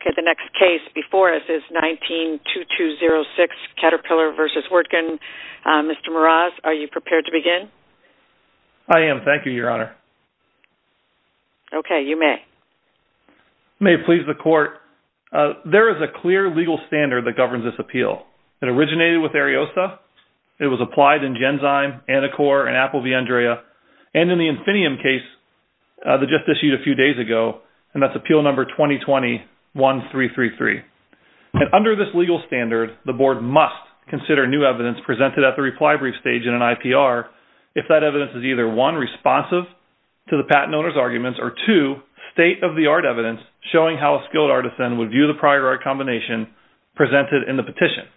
Okay, the next case before us is 19-2206, Caterpillar v. Wirtgen. Mr. Meraz, are you prepared to begin? I am. Thank you, Your Honor. Okay, you may. May it please the Court. There is a clear legal standard that governs this appeal. It originated with Ariosta. It was applied in Genzyme, Anacor, and Apple V. Andrea, and in the Infinium case that just issued a few days ago, and that's Appeal Number 2020-1333. Under this legal standard, the Board must consider new evidence presented at the reply brief stage in an IPR if that evidence is either one, responsive to the patent owner's arguments, or two, state-of-the-art evidence showing how a skilled artisan would view the prior art combination presented in the petition.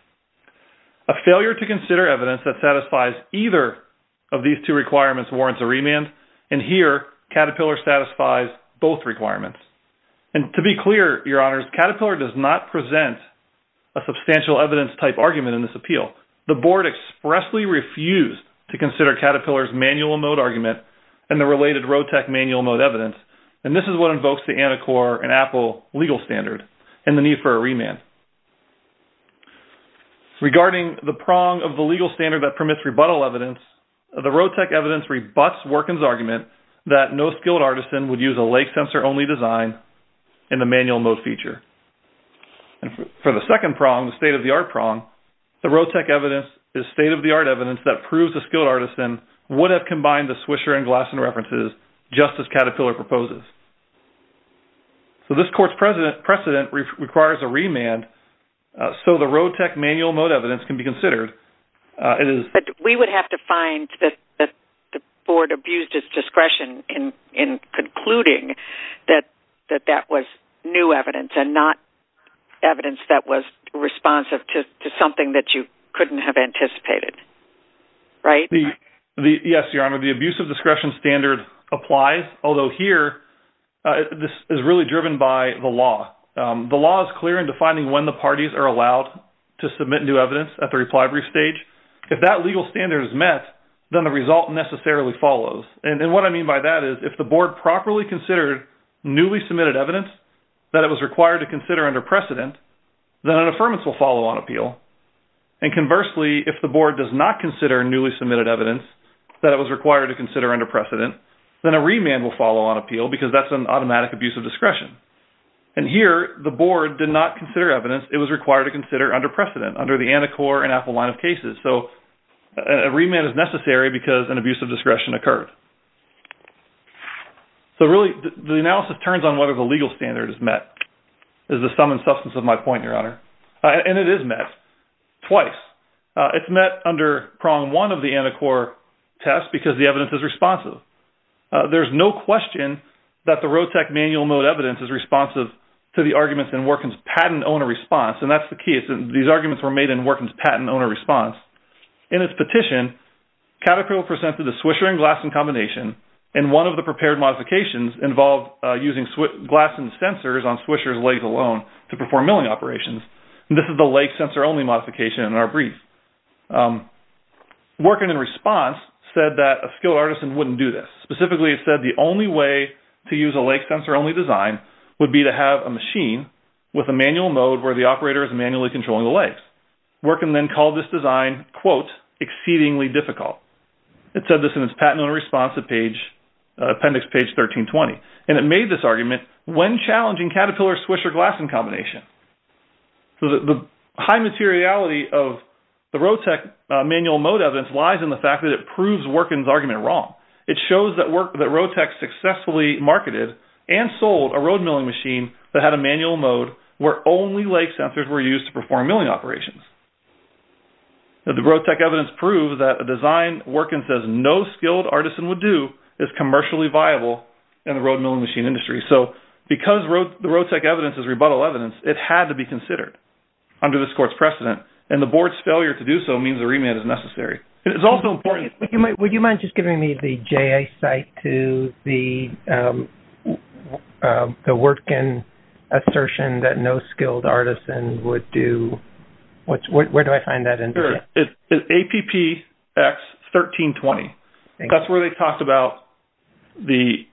A failure to consider evidence that satisfies either of these two requirements warrants a remand. And here, Caterpillar satisfies both requirements. And to be clear, Your Honors, Caterpillar does not present a substantial evidence-type argument in this appeal. The Board expressly refused to consider Caterpillar's manual mode argument and the related Rotec manual mode evidence, and this is what invokes the Anacor and Apple legal standard and the need for a remand. Regarding the prong of the legal standard that permits rebuttal evidence, the Rotec evidence rebuts Workin's argument that no skilled artisan would use a lake sensor-only design in the manual mode feature. And for the second prong, the state-of-the-art prong, the Rotec evidence is state-of-the-art evidence that proves a skilled artisan would have combined the Swisher and Glasson references just as Caterpillar proposes. So this court's precedent requires a remand, so the Rotec manual mode evidence can be considered. But we would have to find that the Board abused its discretion in concluding that that was new evidence and not evidence that was responsive to something that you couldn't have anticipated, right? Yes, Your Honor, the abuse of discretion standard applies, although here this is really driven by the law. The law is clear in defining when the parties are allowed to submit new evidence at the reply brief stage. If that legal standard is met, then the result necessarily follows. And what I mean by that is if the Board properly considered newly submitted evidence that it was required to consider under precedent, then an affirmance will follow on appeal. And conversely, if the Board does not consider newly submitted evidence that it was required to consider under precedent, then a remand will follow on appeal because that's an automatic abuse of discretion. And here the Board did not consider evidence it was required to consider under precedent under the Anacor and Apple line of cases. So a remand is necessary because an abuse of discretion occurred. So really the analysis turns on whether the legal standard is met is the sum and substance of my point, Your Honor. And it is met twice. It's met under prong one of the Anacor test because the evidence is responsive. There's no question that the Rotec manual mode evidence is responsive to the arguments in Workin's patent owner response. And that's the key. These arguments were made in Workin's patent owner response. In its petition, Caterpillar presented a Swisher and Glasson combination and one of the prepared modifications involved using Glasson sensors on Swisher's legs alone to perform milling operations. And this is the leg sensor only modification in our brief. Workin in response said that a skilled artisan wouldn't do this. Specifically, it said the only way to use a leg sensor only design would be to have a machine with a manual mode where the operator is manually controlling the legs. Workin then called this design, quote, exceedingly difficult. It said this in its patent owner response appendix page 1320. And it made this argument when challenging Caterpillar-Swisher-Glasson combination. The high materiality of the Rotec manual mode evidence lies in the fact that it proves Workin's argument wrong. It shows that Rotec successfully marketed and sold a road milling machine that had a manual mode where only leg sensors were used to perform milling operations. The Rotec evidence proved that a design Workin says no skilled artisan would do is commercially viable in the road milling machine industry. So because the Rotec evidence is rebuttal evidence, it had to be considered under this court's precedent. And the board's failure to do so means a remand is necessary. It's also important... Would you mind just giving me the JA site to the Workin assertion that no skilled artisan would do? Where do I find that in? It's APPX 1320. That's where they talked about the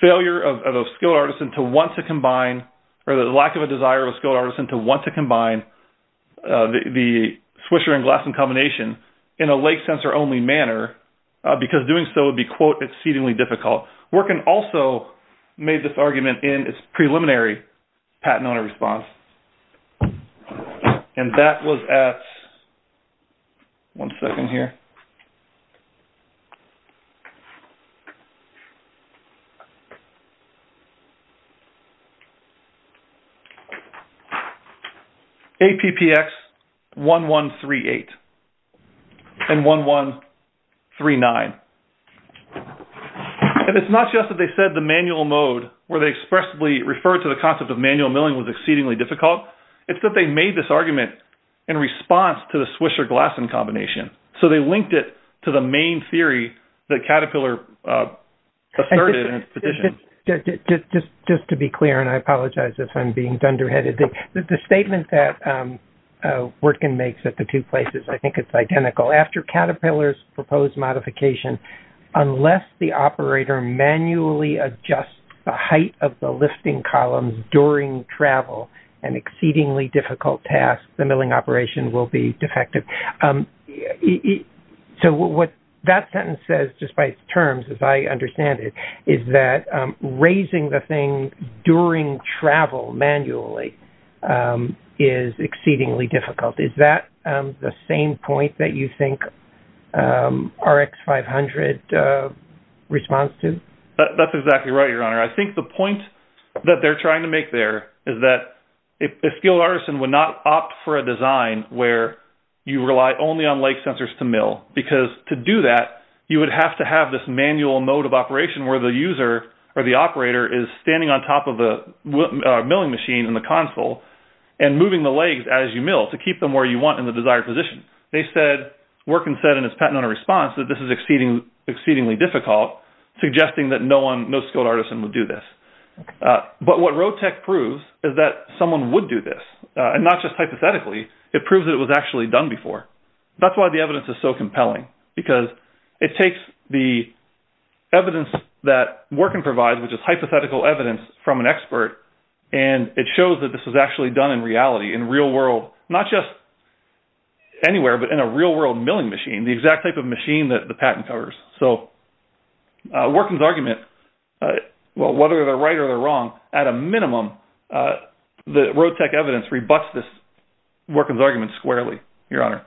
failure of a skilled artisan to want to combine or the lack of a desire of a skilled artisan to want to combine the Swisher and Glasson combination in a leg sensor only manner, because doing so would be, quote, exceedingly difficult. Workin also made this argument in its preliminary patent owner response. And that was at... One second here. APPX 1138. And 1139. And it's not just that they said the manual mode where they expressively referred to the concept of manual milling was exceedingly difficult. It's that they made this argument in response to the Swisher-Glasson combination. So they linked it to the main theory that Caterpillar asserted in its petition. Just to be clear, and I apologize if I'm being dunderheaded, the statement that Workin makes at the two places, I think it's identical. After Caterpillar's proposed modification, unless the operator manually adjusts the height of the lifting columns during travel, an exceedingly difficult task, the milling operation will be defective. So what that sentence says, just by its terms, as I understand it, is that raising the thing during travel manually is exceedingly difficult. Is that the same point that you think RX 500 responds to? That's exactly right, Your Honor. I think the point that they're trying to make there is that a skilled artisan would not opt for a design where you rely only on leg sensors to mill. Because to do that, you would have to have this manual mode of operation where the user or the operator is standing on top of the milling machine in the console and moving the legs as you mill to keep them where you want in the desired position. They said, Workin said in its patented response, that this is exceedingly difficult, suggesting that no skilled artisan would do this. But what RoadTech proves is that someone would do this. And not just hypothetically, it proves that it was actually done before. That's why the evidence is so compelling. Because it takes the evidence that Workin provides, which is hypothetical evidence from an expert, and it shows that this was actually done in reality, in real world, not just anywhere, but in a real world milling machine, the exact type of machine that the patent covers. So Workin's argument, whether they're right or they're wrong, at a minimum, the RoadTech evidence rebutts this Workin's argument squarely, Your Honor.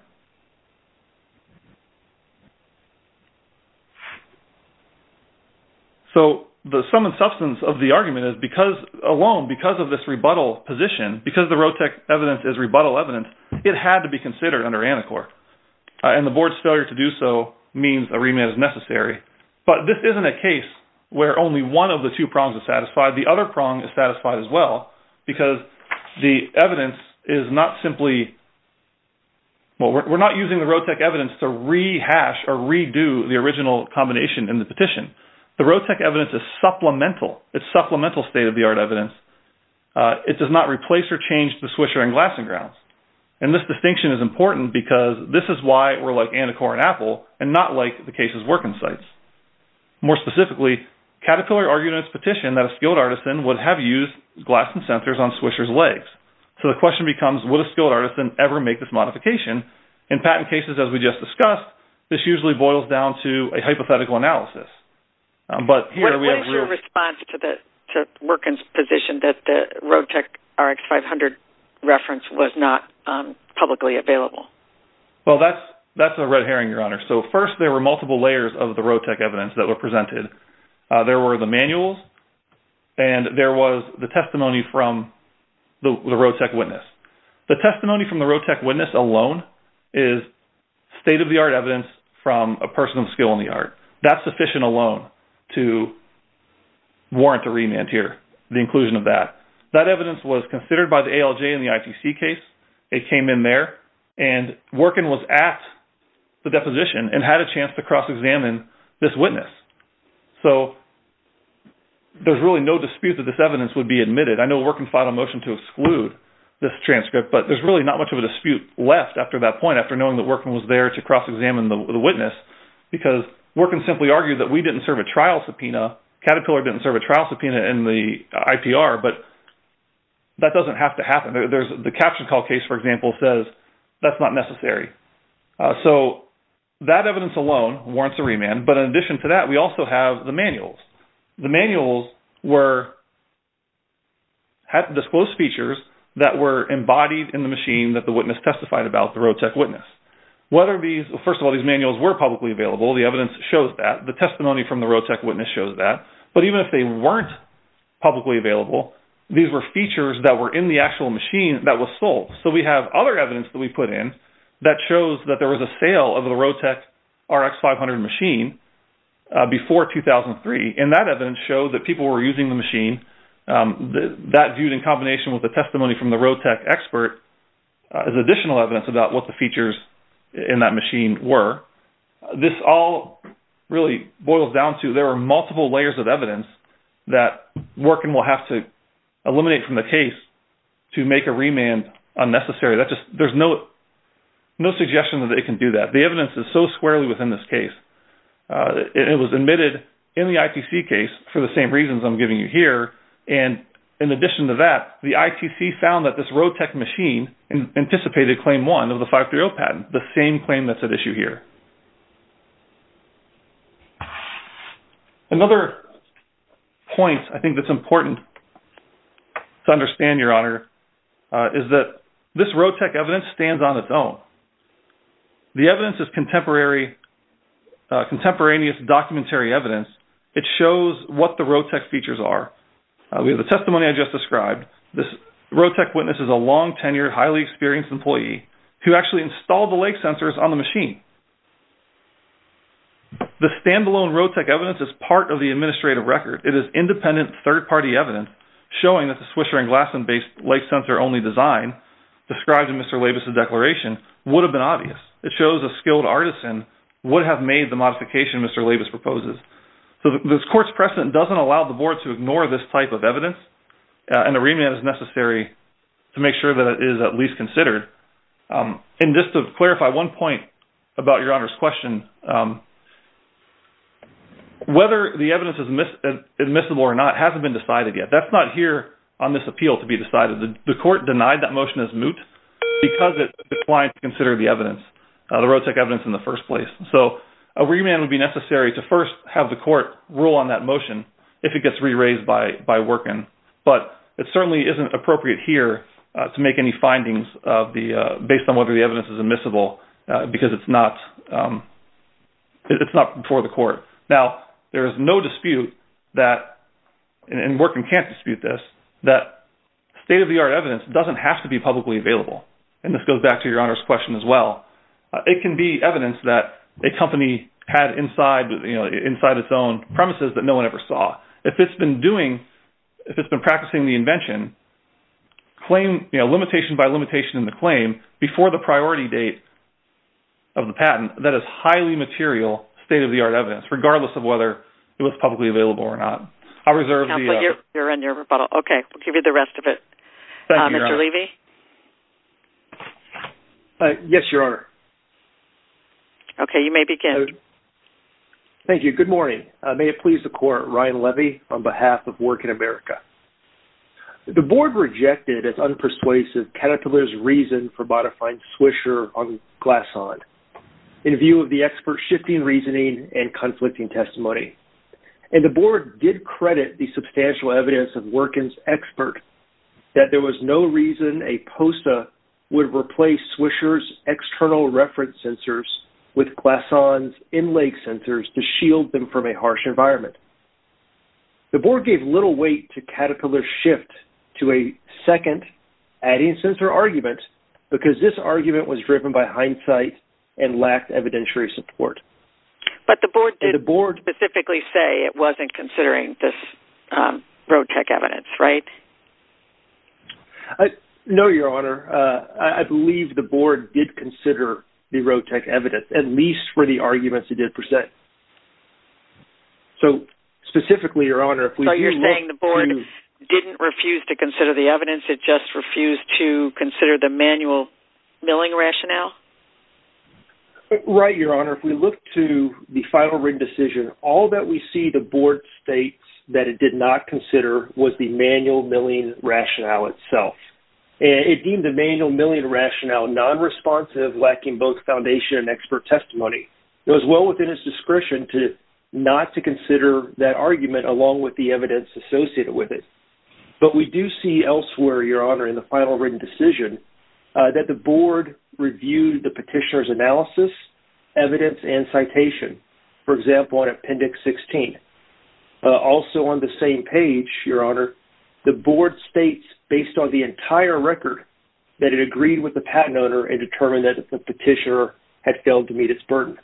So the sum and substance of the argument is because alone, because of this rebuttal position, because the RoadTech evidence is rebuttal evidence, it had to be considered under ANICOR. And the board's failure to do so means a remit is necessary. But this isn't a case where only one of the two prongs is satisfied. The other prong is satisfied as well, because the evidence is not simply, we're not using the RoadTech evidence to rehash or redo the original combination in the petition. The RoadTech evidence is supplemental. It's supplemental state-of-the-art evidence. It does not replace or change the Swisher and Glasson grounds. And this distinction is important because this is why we're like ANICOR and Apple and not like the cases Workin cites. More specifically, Caterpillar argued in its petition that a skilled artisan would have used Glasson sensors on Swisher's legs. So the question becomes, would a skilled artisan ever make this modification? In patent cases, as we just discussed, this usually boils down to a hypothetical analysis. But here we have... What is your response to Workin's position that the RoadTech RX500 reference was not publicly available? Well, that's a red herring, Your Honor. So first, there were multiple layers of the RoadTech evidence that were presented. There were the manuals, and there was the testimony from the RoadTech witness. The testimony from the RoadTech witness alone is state-of-the-art evidence from a person of skill in the art. That's sufficient alone to warrant a remand here, the inclusion of that. That evidence was considered by the ALJ in the ITC case. It came in there, and Workin was at the deposition and had a chance to cross-examine this witness. So there's really no dispute that this evidence would be admitted. I know Workin filed a motion to exclude this transcript, but there's really not much of a dispute left after that point, after knowing that Workin was there to cross-examine the witness, because Workin simply argued that we didn't serve a trial subpoena, Caterpillar didn't serve a trial subpoena in the IPR, but that doesn't have to happen. The caption call case, for example, says that's not necessary. So that evidence alone warrants a remand, but in addition to that, we also have the manuals. The manuals had disclosed features that were embodied in the machine that the witness testified about, the Rotec witness. First of all, these manuals were publicly available. The evidence shows that. The testimony from the Rotec witness shows that. But even if they weren't publicly available, these were features that were in the actual machine that was sold. So we have other evidence that we put in that shows that there was a sale of the Rotec RX500 machine before 2003, and that evidence showed that people were using the machine. That viewed in combination with the testimony from the Rotec expert is additional evidence about what the features in that machine were. This all really boils down to there are multiple layers of evidence that Workin will have to eliminate from the case to make a remand unnecessary. There's no suggestion that it can do that. The evidence is so squarely within this case. It was admitted in the ITC case for the same reasons I'm giving you here, and in addition to that, the ITC found that this Rotec machine anticipated Claim 1 of the 530 patent, the same claim that's at issue here. This Rotec evidence stands on its own. The evidence is contemporaneous documentary evidence. It shows what the Rotec features are. We have the testimony I just described. This Rotec witness is a long-tenured, highly experienced employee who actually installed the lake sensors on the machine. The standalone Rotec evidence is part of the administrative record. It is independent, third-party evidence showing that the Swisher & Glasson-based lake sensor-only design described in Mr. Labus's declaration would have been obvious. It shows a skilled artisan would have made the modification Mr. Labus proposes. So this court's precedent doesn't allow the Board to ignore this type of evidence, and a remand is necessary to make sure that it is at least considered. And just to clarify one point about Your Honor's question, whether the evidence is admissible or not hasn't been decided yet. That's not here on this appeal to be decided. The court denied that motion as moot because it declined to consider the evidence, the Rotec evidence in the first place. So a remand would be necessary to first have the court rule on that motion if it gets re-raised by Workin. But it certainly isn't appropriate here to make any findings based on whether the evidence is admissible because it's not before the court. Now, there is no dispute that, and Workin can't dispute this, that state-of-the-art evidence doesn't have to be publicly available. And this goes back to Your Honor's question as well. It can be evidence that a company had inside its own premises that no one ever saw. If it's been practicing the invention, limitation by limitation in the claim before the priority date of the patent, that is highly material state-of-the-art evidence, regardless of whether it was publicly available or not. I'll reserve the— Okay, we'll give you the rest of it. Mr. Levy? Yes, Your Honor. Okay, you may begin. Thank you. Good morning. May it please the Court, Ryan Levy on behalf of Workin America. The Board rejected as unpersuasive Caterpillar's reason for modifying Swisher on Glasson in view of the expert's shifting reasoning and conflicting testimony. And the Board did credit the substantial evidence of Workin's expert that there was no reason a POSTA would replace Swisher's external reference sensors with Glasson's in-leg sensors to shield them from a harsh environment. The Board gave little weight to Caterpillar's shift to a second adding sensor argument because this argument was driven by hindsight and lacked evidentiary support. But the Board did specifically say it wasn't considering this road-tech evidence, right? No, Your Honor. I believe the Board did consider the road-tech evidence, at least for the arguments it did present. So, specifically, Your Honor... So you're saying the Board didn't refuse to consider the evidence, it just refused to consider the manual milling rationale? Right, Your Honor. If we look to the final written decision, all that we see the Board states that it did not consider was the manual milling rationale itself. It deemed the manual milling rationale non-responsive, lacking both foundation and expert testimony. It was well within its discretion not to consider that argument along with the evidence associated with it. But we do see elsewhere, Your Honor, in the final written decision that the Board reviewed the petitioner's analysis, evidence, and citation. For example, on Appendix 16. Also on the same page, Your Honor, the Board states, based on the entire record, that it agreed with the patent owner and determined that the petitioner had failed to meet its burden.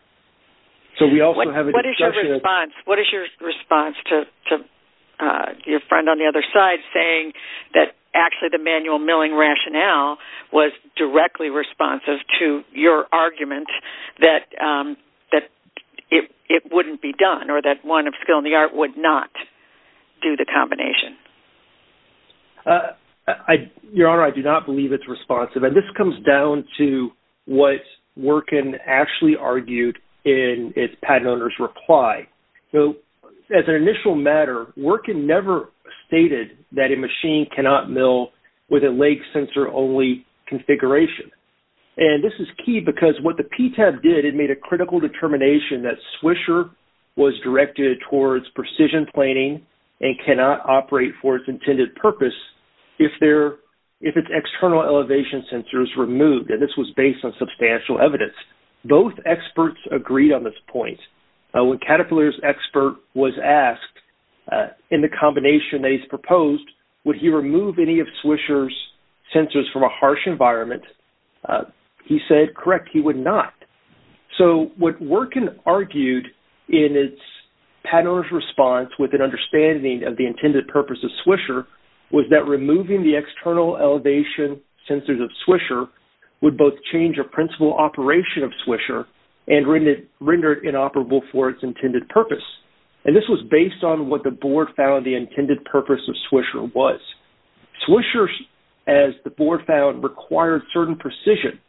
So we also have a discussion... What is your response to your friend on the other side saying that actually the manual milling rationale was directly responsive to your argument that it wouldn't be done or that one of skill and the art would not do the combination? Your Honor, I do not believe it's responsive. And this comes down to what Workin actually argued in its patent owner's reply. So as an initial matter, Workin never stated that a machine cannot mill with a leg sensor-only configuration. And this is key because what the PTAB did, it made a critical determination that Swisher was directed towards precision planing and cannot operate for its intended purpose if its external elevation sensor is removed. And this was based on substantial evidence. Both experts agreed on this point. When Caterpillar's expert was asked, in the combination that he's proposed, would he remove any of Swisher's sensors from a harsh environment, he said, correct, he would not. So what Workin argued in its patent owner's response with an understanding of the intended purpose of Swisher was that removing the external elevation sensors of Swisher would both change a principal operation of Swisher and render it inoperable for its intended purpose. And this was based on what the board found the intended purpose of Swisher was. Swisher, as the board found, required certain precision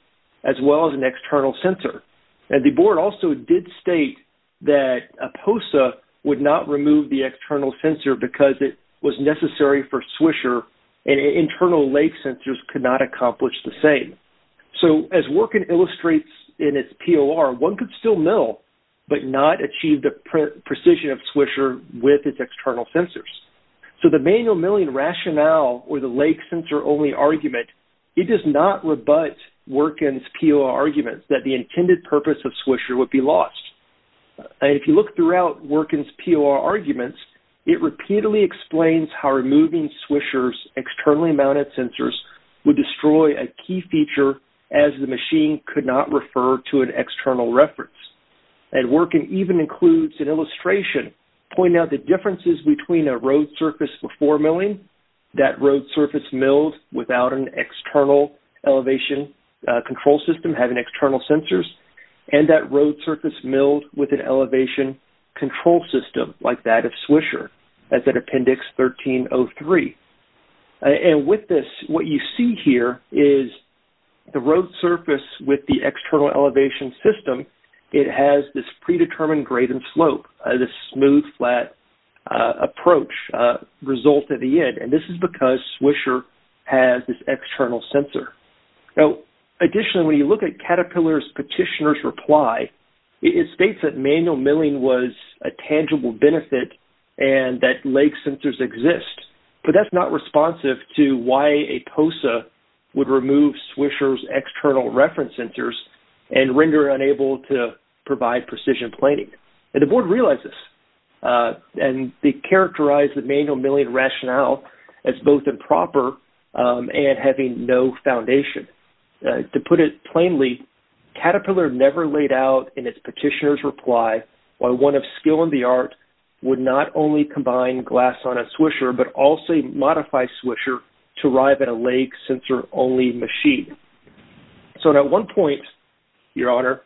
as well as an external sensor. And the board also did state that a POSA would not remove the external sensor because it was necessary for Swisher and internal lake sensors could not accomplish the same. So as Workin illustrates in its POR, one could still mill but not achieve the precision of Swisher with its external sensors. So the manual milling rationale or the lake sensor only argument, it does not rebut Workin's POR argument that the intended purpose of Swisher would be lost. And if you look throughout Workin's POR arguments, it repeatedly explains how removing Swisher's externally mounted sensors would destroy a key feature as the machine could not refer to an external reference. And Workin even includes an illustration pointing out the differences between a road surface before milling, that road surface milled without an external elevation control system having external sensors, and that road surface milled with an elevation control system like that of Swisher. That's at Appendix 1303. And with this, what you see here is the road surface with the external elevation system, it has this predetermined graven slope, this smooth, flat approach result at the end. And this is because Swisher has this external sensor. Now, additionally, when you look at Caterpillar's petitioner's reply, it states that manual milling was a tangible benefit and that lake sensors exist. But that's not responsive to why a POSA would remove Swisher's external reference sensors and render it unable to provide precision planning. And the board realized this. And they characterized the manual milling rationale as both improper and having no foundation. To put it plainly, Caterpillar never laid out in its petitioner's reply why one of skill in the art would not only combine glass on a Swisher but also modify Swisher to arrive at a lake sensor-only machine. So at one point, Your Honor,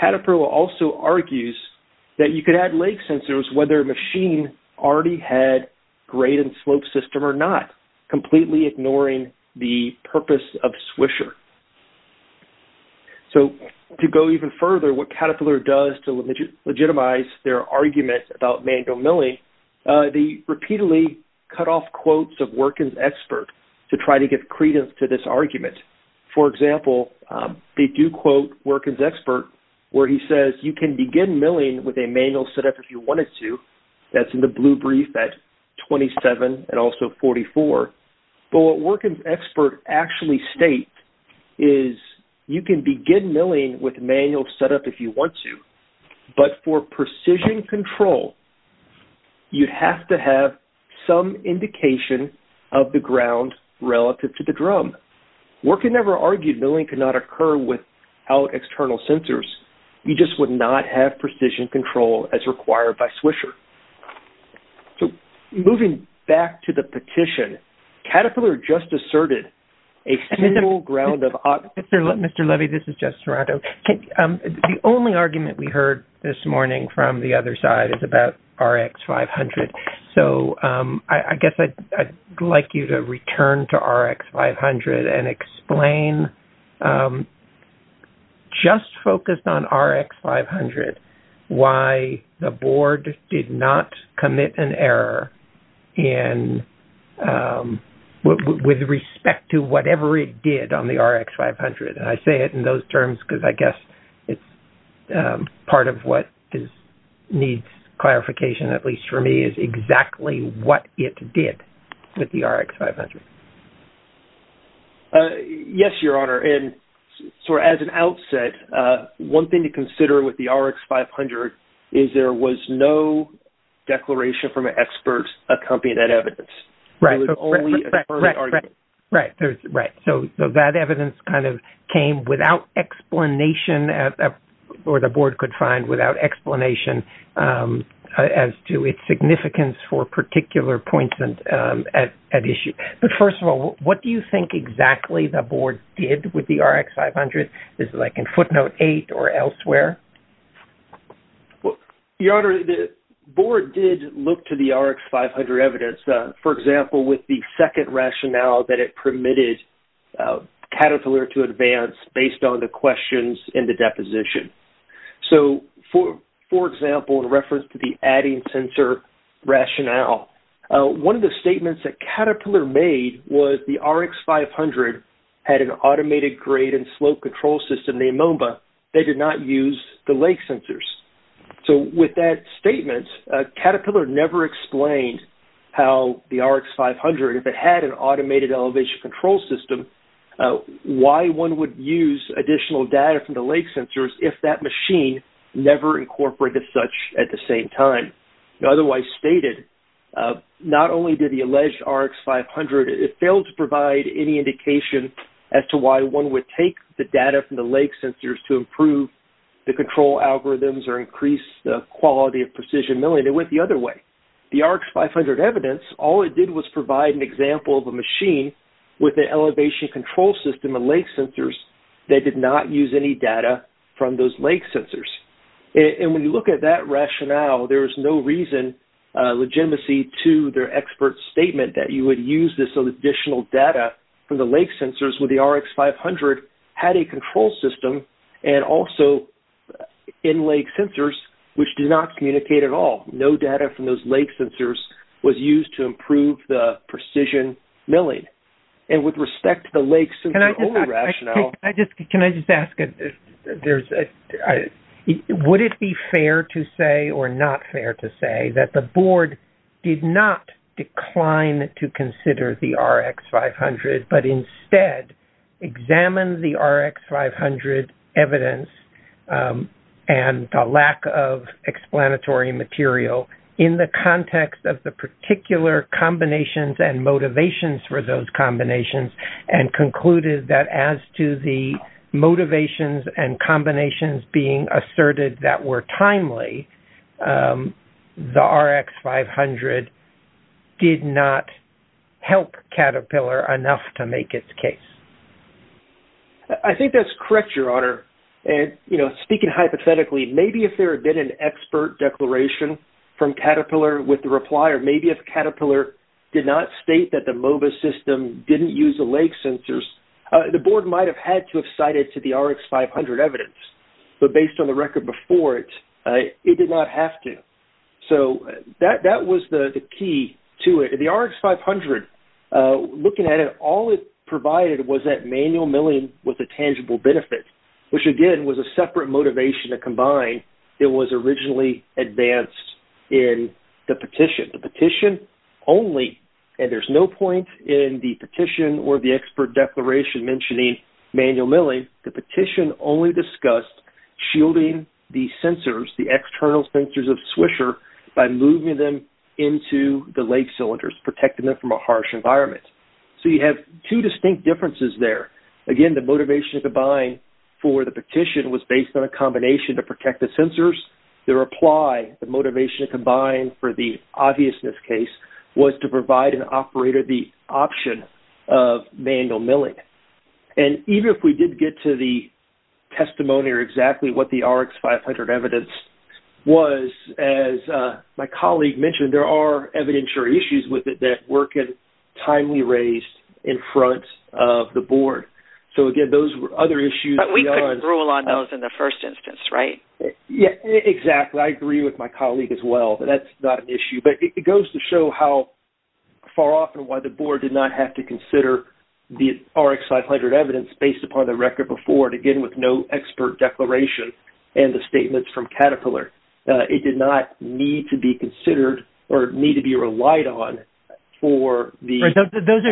Caterpillar also argues that you could add lake sensors whether a machine already had graven slope system or not, completely ignoring the purpose of Swisher. So to go even further, what Caterpillar does to legitimize their argument about manual milling, they repeatedly cut off quotes of Workin's expert to try to give credence to this argument. For example, they do quote Workin's expert where he says, you can begin milling with a manual setup if you wanted to. That's in the blue brief at 27 and also 44. But what Workin's expert actually states is, you can begin milling with manual setup if you want to, but for precision control, you'd have to have some indication of the ground relative to the drum. Workin never argued milling could not occur without external sensors. You just would not have precision control as required by Swisher. So moving back to the petition, Caterpillar just asserted a single ground of- Mr. Levy, this is Jeff Serrato. The only argument we heard this morning from the other side is about RX500. So I guess I'd like you to return to RX500 and explain, just focused on RX500, why the board did not commit an error with respect to whatever it did on the RX500. And I say it in those terms because I guess it's part of what needs clarification, at least for me, is exactly what it did with the RX500. Yes, Your Honor. And so as an outset, one thing to consider with the RX500 is there was no declaration from an expert accompanying that evidence. Right. So that evidence kind of came without explanation, or the board could find without explanation, as to its significance for particular points at issue. But first of all, what do you think exactly the board did with the RX500? Is it like in footnote eight or elsewhere? Your Honor, the board did look to the RX500 evidence, for example, with the second rationale that it permitted Caterpillar to advance based on the questions in the deposition. So, for example, in reference to the adding sensor rationale, one of the statements that Caterpillar made was the RX500 had an automated grade and slope control system, the OMBA, that did not use the lake sensors. So with that statement, Caterpillar never explained how the RX500, if it had an automated elevation control system, why one would use additional data from the lake sensors if that machine never incorporated such at the same time. Otherwise stated, not only did the alleged RX500, it failed to provide any indication as to why one would take the data from the lake sensors to improve the control algorithms or increase the quality of precision milling. It went the other way. The RX500 evidence, all it did was provide an example of a machine with an elevation control system and lake sensors that did not use any data from those lake sensors. And when you look at that rationale, there was no reason, legitimacy to their expert statement that you would use this additional data from the lake sensors when the RX500 had a control system and also in lake sensors, which did not communicate at all. No data from those lake sensors was used to improve the precision milling. And with respect to the lake sensor only rationale. Can I just ask, would it be fair to say or not fair to say that the board did not decline to consider the RX500 but instead examined the RX500 evidence and the lack of explanatory material in the context of the particular combinations and motivations for those combinations and concluded that as to the motivations and combinations being asserted that were timely, the RX500 did not help Caterpillar enough to make its case. I think that's correct, Your Honor. And, you know, speaking hypothetically, maybe if there had been an expert declaration from Caterpillar with the replier, maybe if Caterpillar did not state that the MOBA system didn't use the lake sensors, the board might have had to have cited to the RX500 evidence. But based on the record before it, it did not have to. So that was the key to it. The RX500, looking at it, all it provided was that manual milling was a tangible benefit, which again was a separate motivation to combine. It was originally advanced in the petition. The petition only, and there's no point in the petition or the expert declaration mentioning manual milling. The petition only discussed shielding the sensors, the external sensors of Swisher, by moving them into the lake cylinders, protecting them from a harsh environment. So you have two distinct differences there. Again, the motivation to combine for the petition was based on a combination to protect the sensors. The reply, the motivation to combine for the obviousness case, was to provide an operator the option of manual milling. And even if we did get to the testimony or exactly what the RX500 evidence discussed was, as my colleague mentioned, there are evidentiary issues with it that were kind of timely raised in front of the board. So again, those were other issues. But we could rule on those in the first instance, right? Yeah, exactly. I agree with my colleague as well that that's not an issue. But it goes to show how far off and why the board did not have to consider the RX500 evidence based upon the record before it, again, with no expert declaration and the statements from Caterpillar. It did not need to be considered or need to be relied on for the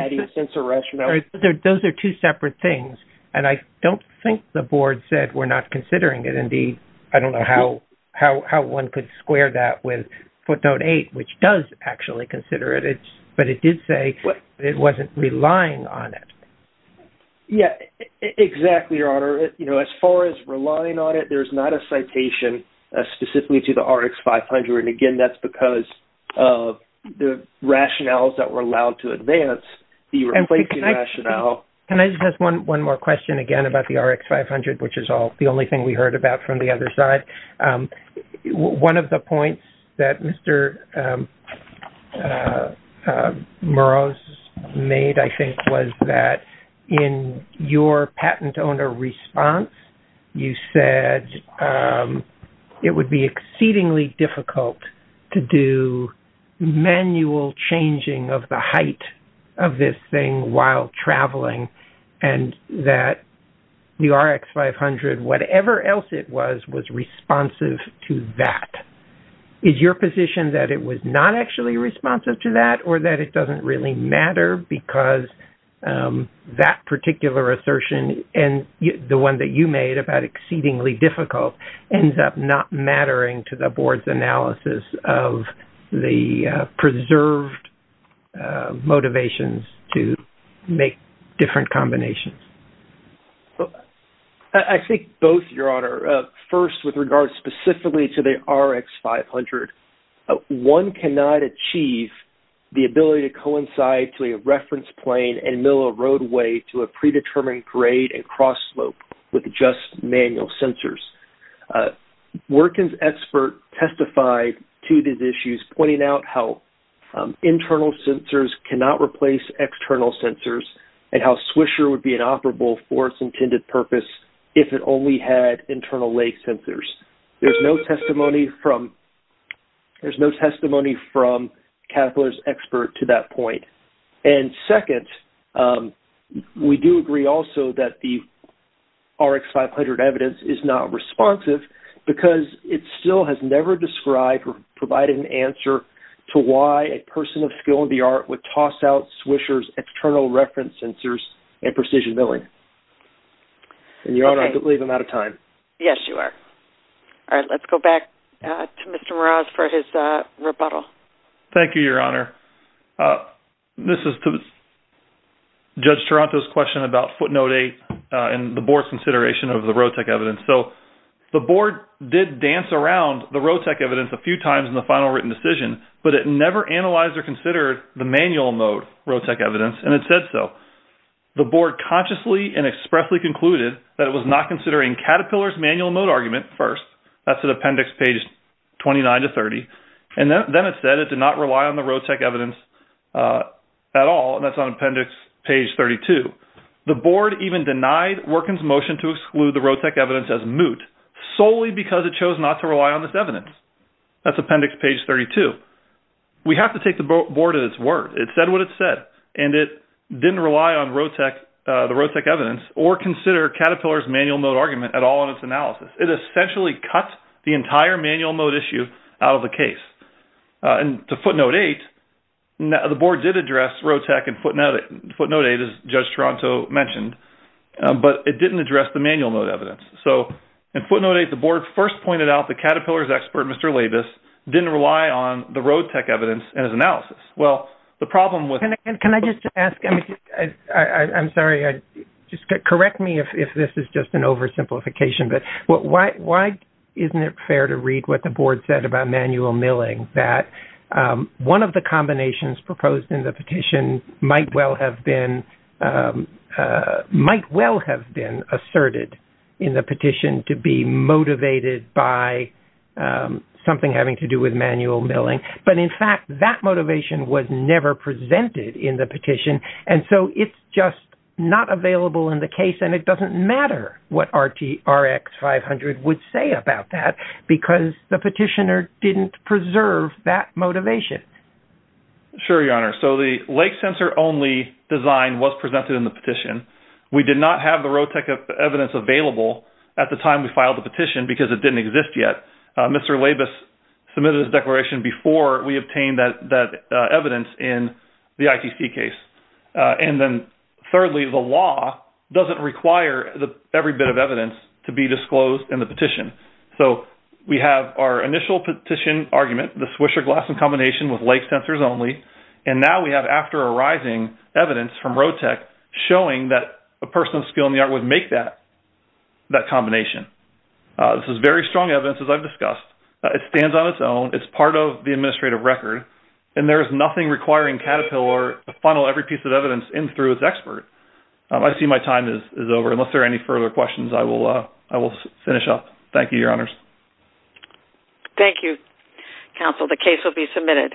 adding sensor rationale. Those are two separate things. And I don't think the board said we're not considering it. Indeed, I don't know how one could square that with footnote eight, which does actually consider it. But it did say it wasn't relying on it. Yeah, exactly, Your Honor. You know, as far as relying on it, there's not a citation specifically to the RX500. And again, that's because of the rationales that were allowed to advance, the replacement rationale. Can I just ask one more question again about the RX500, which is the only thing we heard about from the other side? One of the points that Mr. Moroz made, I think, was that in your patent owner response, you said it would be exceedingly difficult to do manual changing of the height of this thing while traveling and that the RX500, whatever else it was, was responsive to that. Is your position that it was not actually responsive to that or that it doesn't really matter because that particular assertion and the one that you made about exceedingly difficult ends up not mattering to the board's analysis of the preserved motivations to make different combinations? I think both, Your Honor. First, with regard specifically to the RX500, one cannot achieve the ability to coincide to a reference plane and mill a roadway to a predetermined grade and cross slope with just manual sensors. Workin's expert testified to these issues, pointing out how internal sensors cannot replace external sensors and how the RX500 is inoperable for its intended purpose if it only had internal lake sensors. There's no testimony from Caterpillar's expert to that point. And second, we do agree also that the RX500 evidence is not responsive because it still has never described or provided an answer to why a person of skill in the field is willing. And, Your Honor, I believe I'm out of time. Yes, you are. All right. Let's go back to Mr. Meraz for his rebuttal. Thank you, Your Honor. This is to Judge Taranto's question about footnote eight and the board's consideration of the road tech evidence. So the board did dance around the road tech evidence a few times in the final written decision, but it never analyzed or considered the manual mode road tech evidence, and it said so. The board consciously and expressly concluded that it was not considering Caterpillar's manual mode argument first. That's in appendix page 29 to 30. And then it said it did not rely on the road tech evidence at all, and that's on appendix page 32. The board even denied Workin's motion to exclude the road tech evidence as moot solely because it chose not to rely on this evidence. That's appendix page 32. We have to take the board at its word. It said what it said, and it didn't rely on the road tech evidence or consider Caterpillar's manual mode argument at all in its analysis. It essentially cut the entire manual mode issue out of the case. And to footnote eight, the board did address road tech and footnote eight, as Judge Taranto mentioned, but it didn't address the manual mode evidence. So in footnote eight, the board first pointed out the Caterpillar's expert, Mr. Labus, didn't rely on the road tech evidence in his analysis. Can I just ask? I'm sorry. Correct me if this is just an oversimplification, but why isn't it fair to read what the board said about manual milling, that one of the combinations proposed in the petition might well have been asserted in the petition to be motivated by something having to do with manual milling. But in fact, that motivation was never presented in the petition, and so it's just not available in the case, and it doesn't matter what Rx500 would say about that because the petitioner didn't preserve that motivation. Sure, Your Honor. So the lake sensor only design was presented in the petition. We did not have the road tech evidence available at the time we filed the petition because it didn't exist yet. Mr. Labus submitted his declaration before we obtained that evidence in the ITC case. And then thirdly, the law doesn't require every bit of evidence to be disclosed in the petition. So we have our initial petition argument, the Swisher-Glasson combination with lake sensors only, and now we have after arising evidence from road tech showing that a person with a skill in the art would make that combination. This is very strong evidence, as I've discussed. It stands on its own. It's part of the administrative record, and there is nothing requiring Caterpillar to funnel every piece of evidence in through its expert. I see my time is over. Unless there are any further questions, I will finish up. Thank you, Your Honors. Thank you, Counsel. The case will be submitted.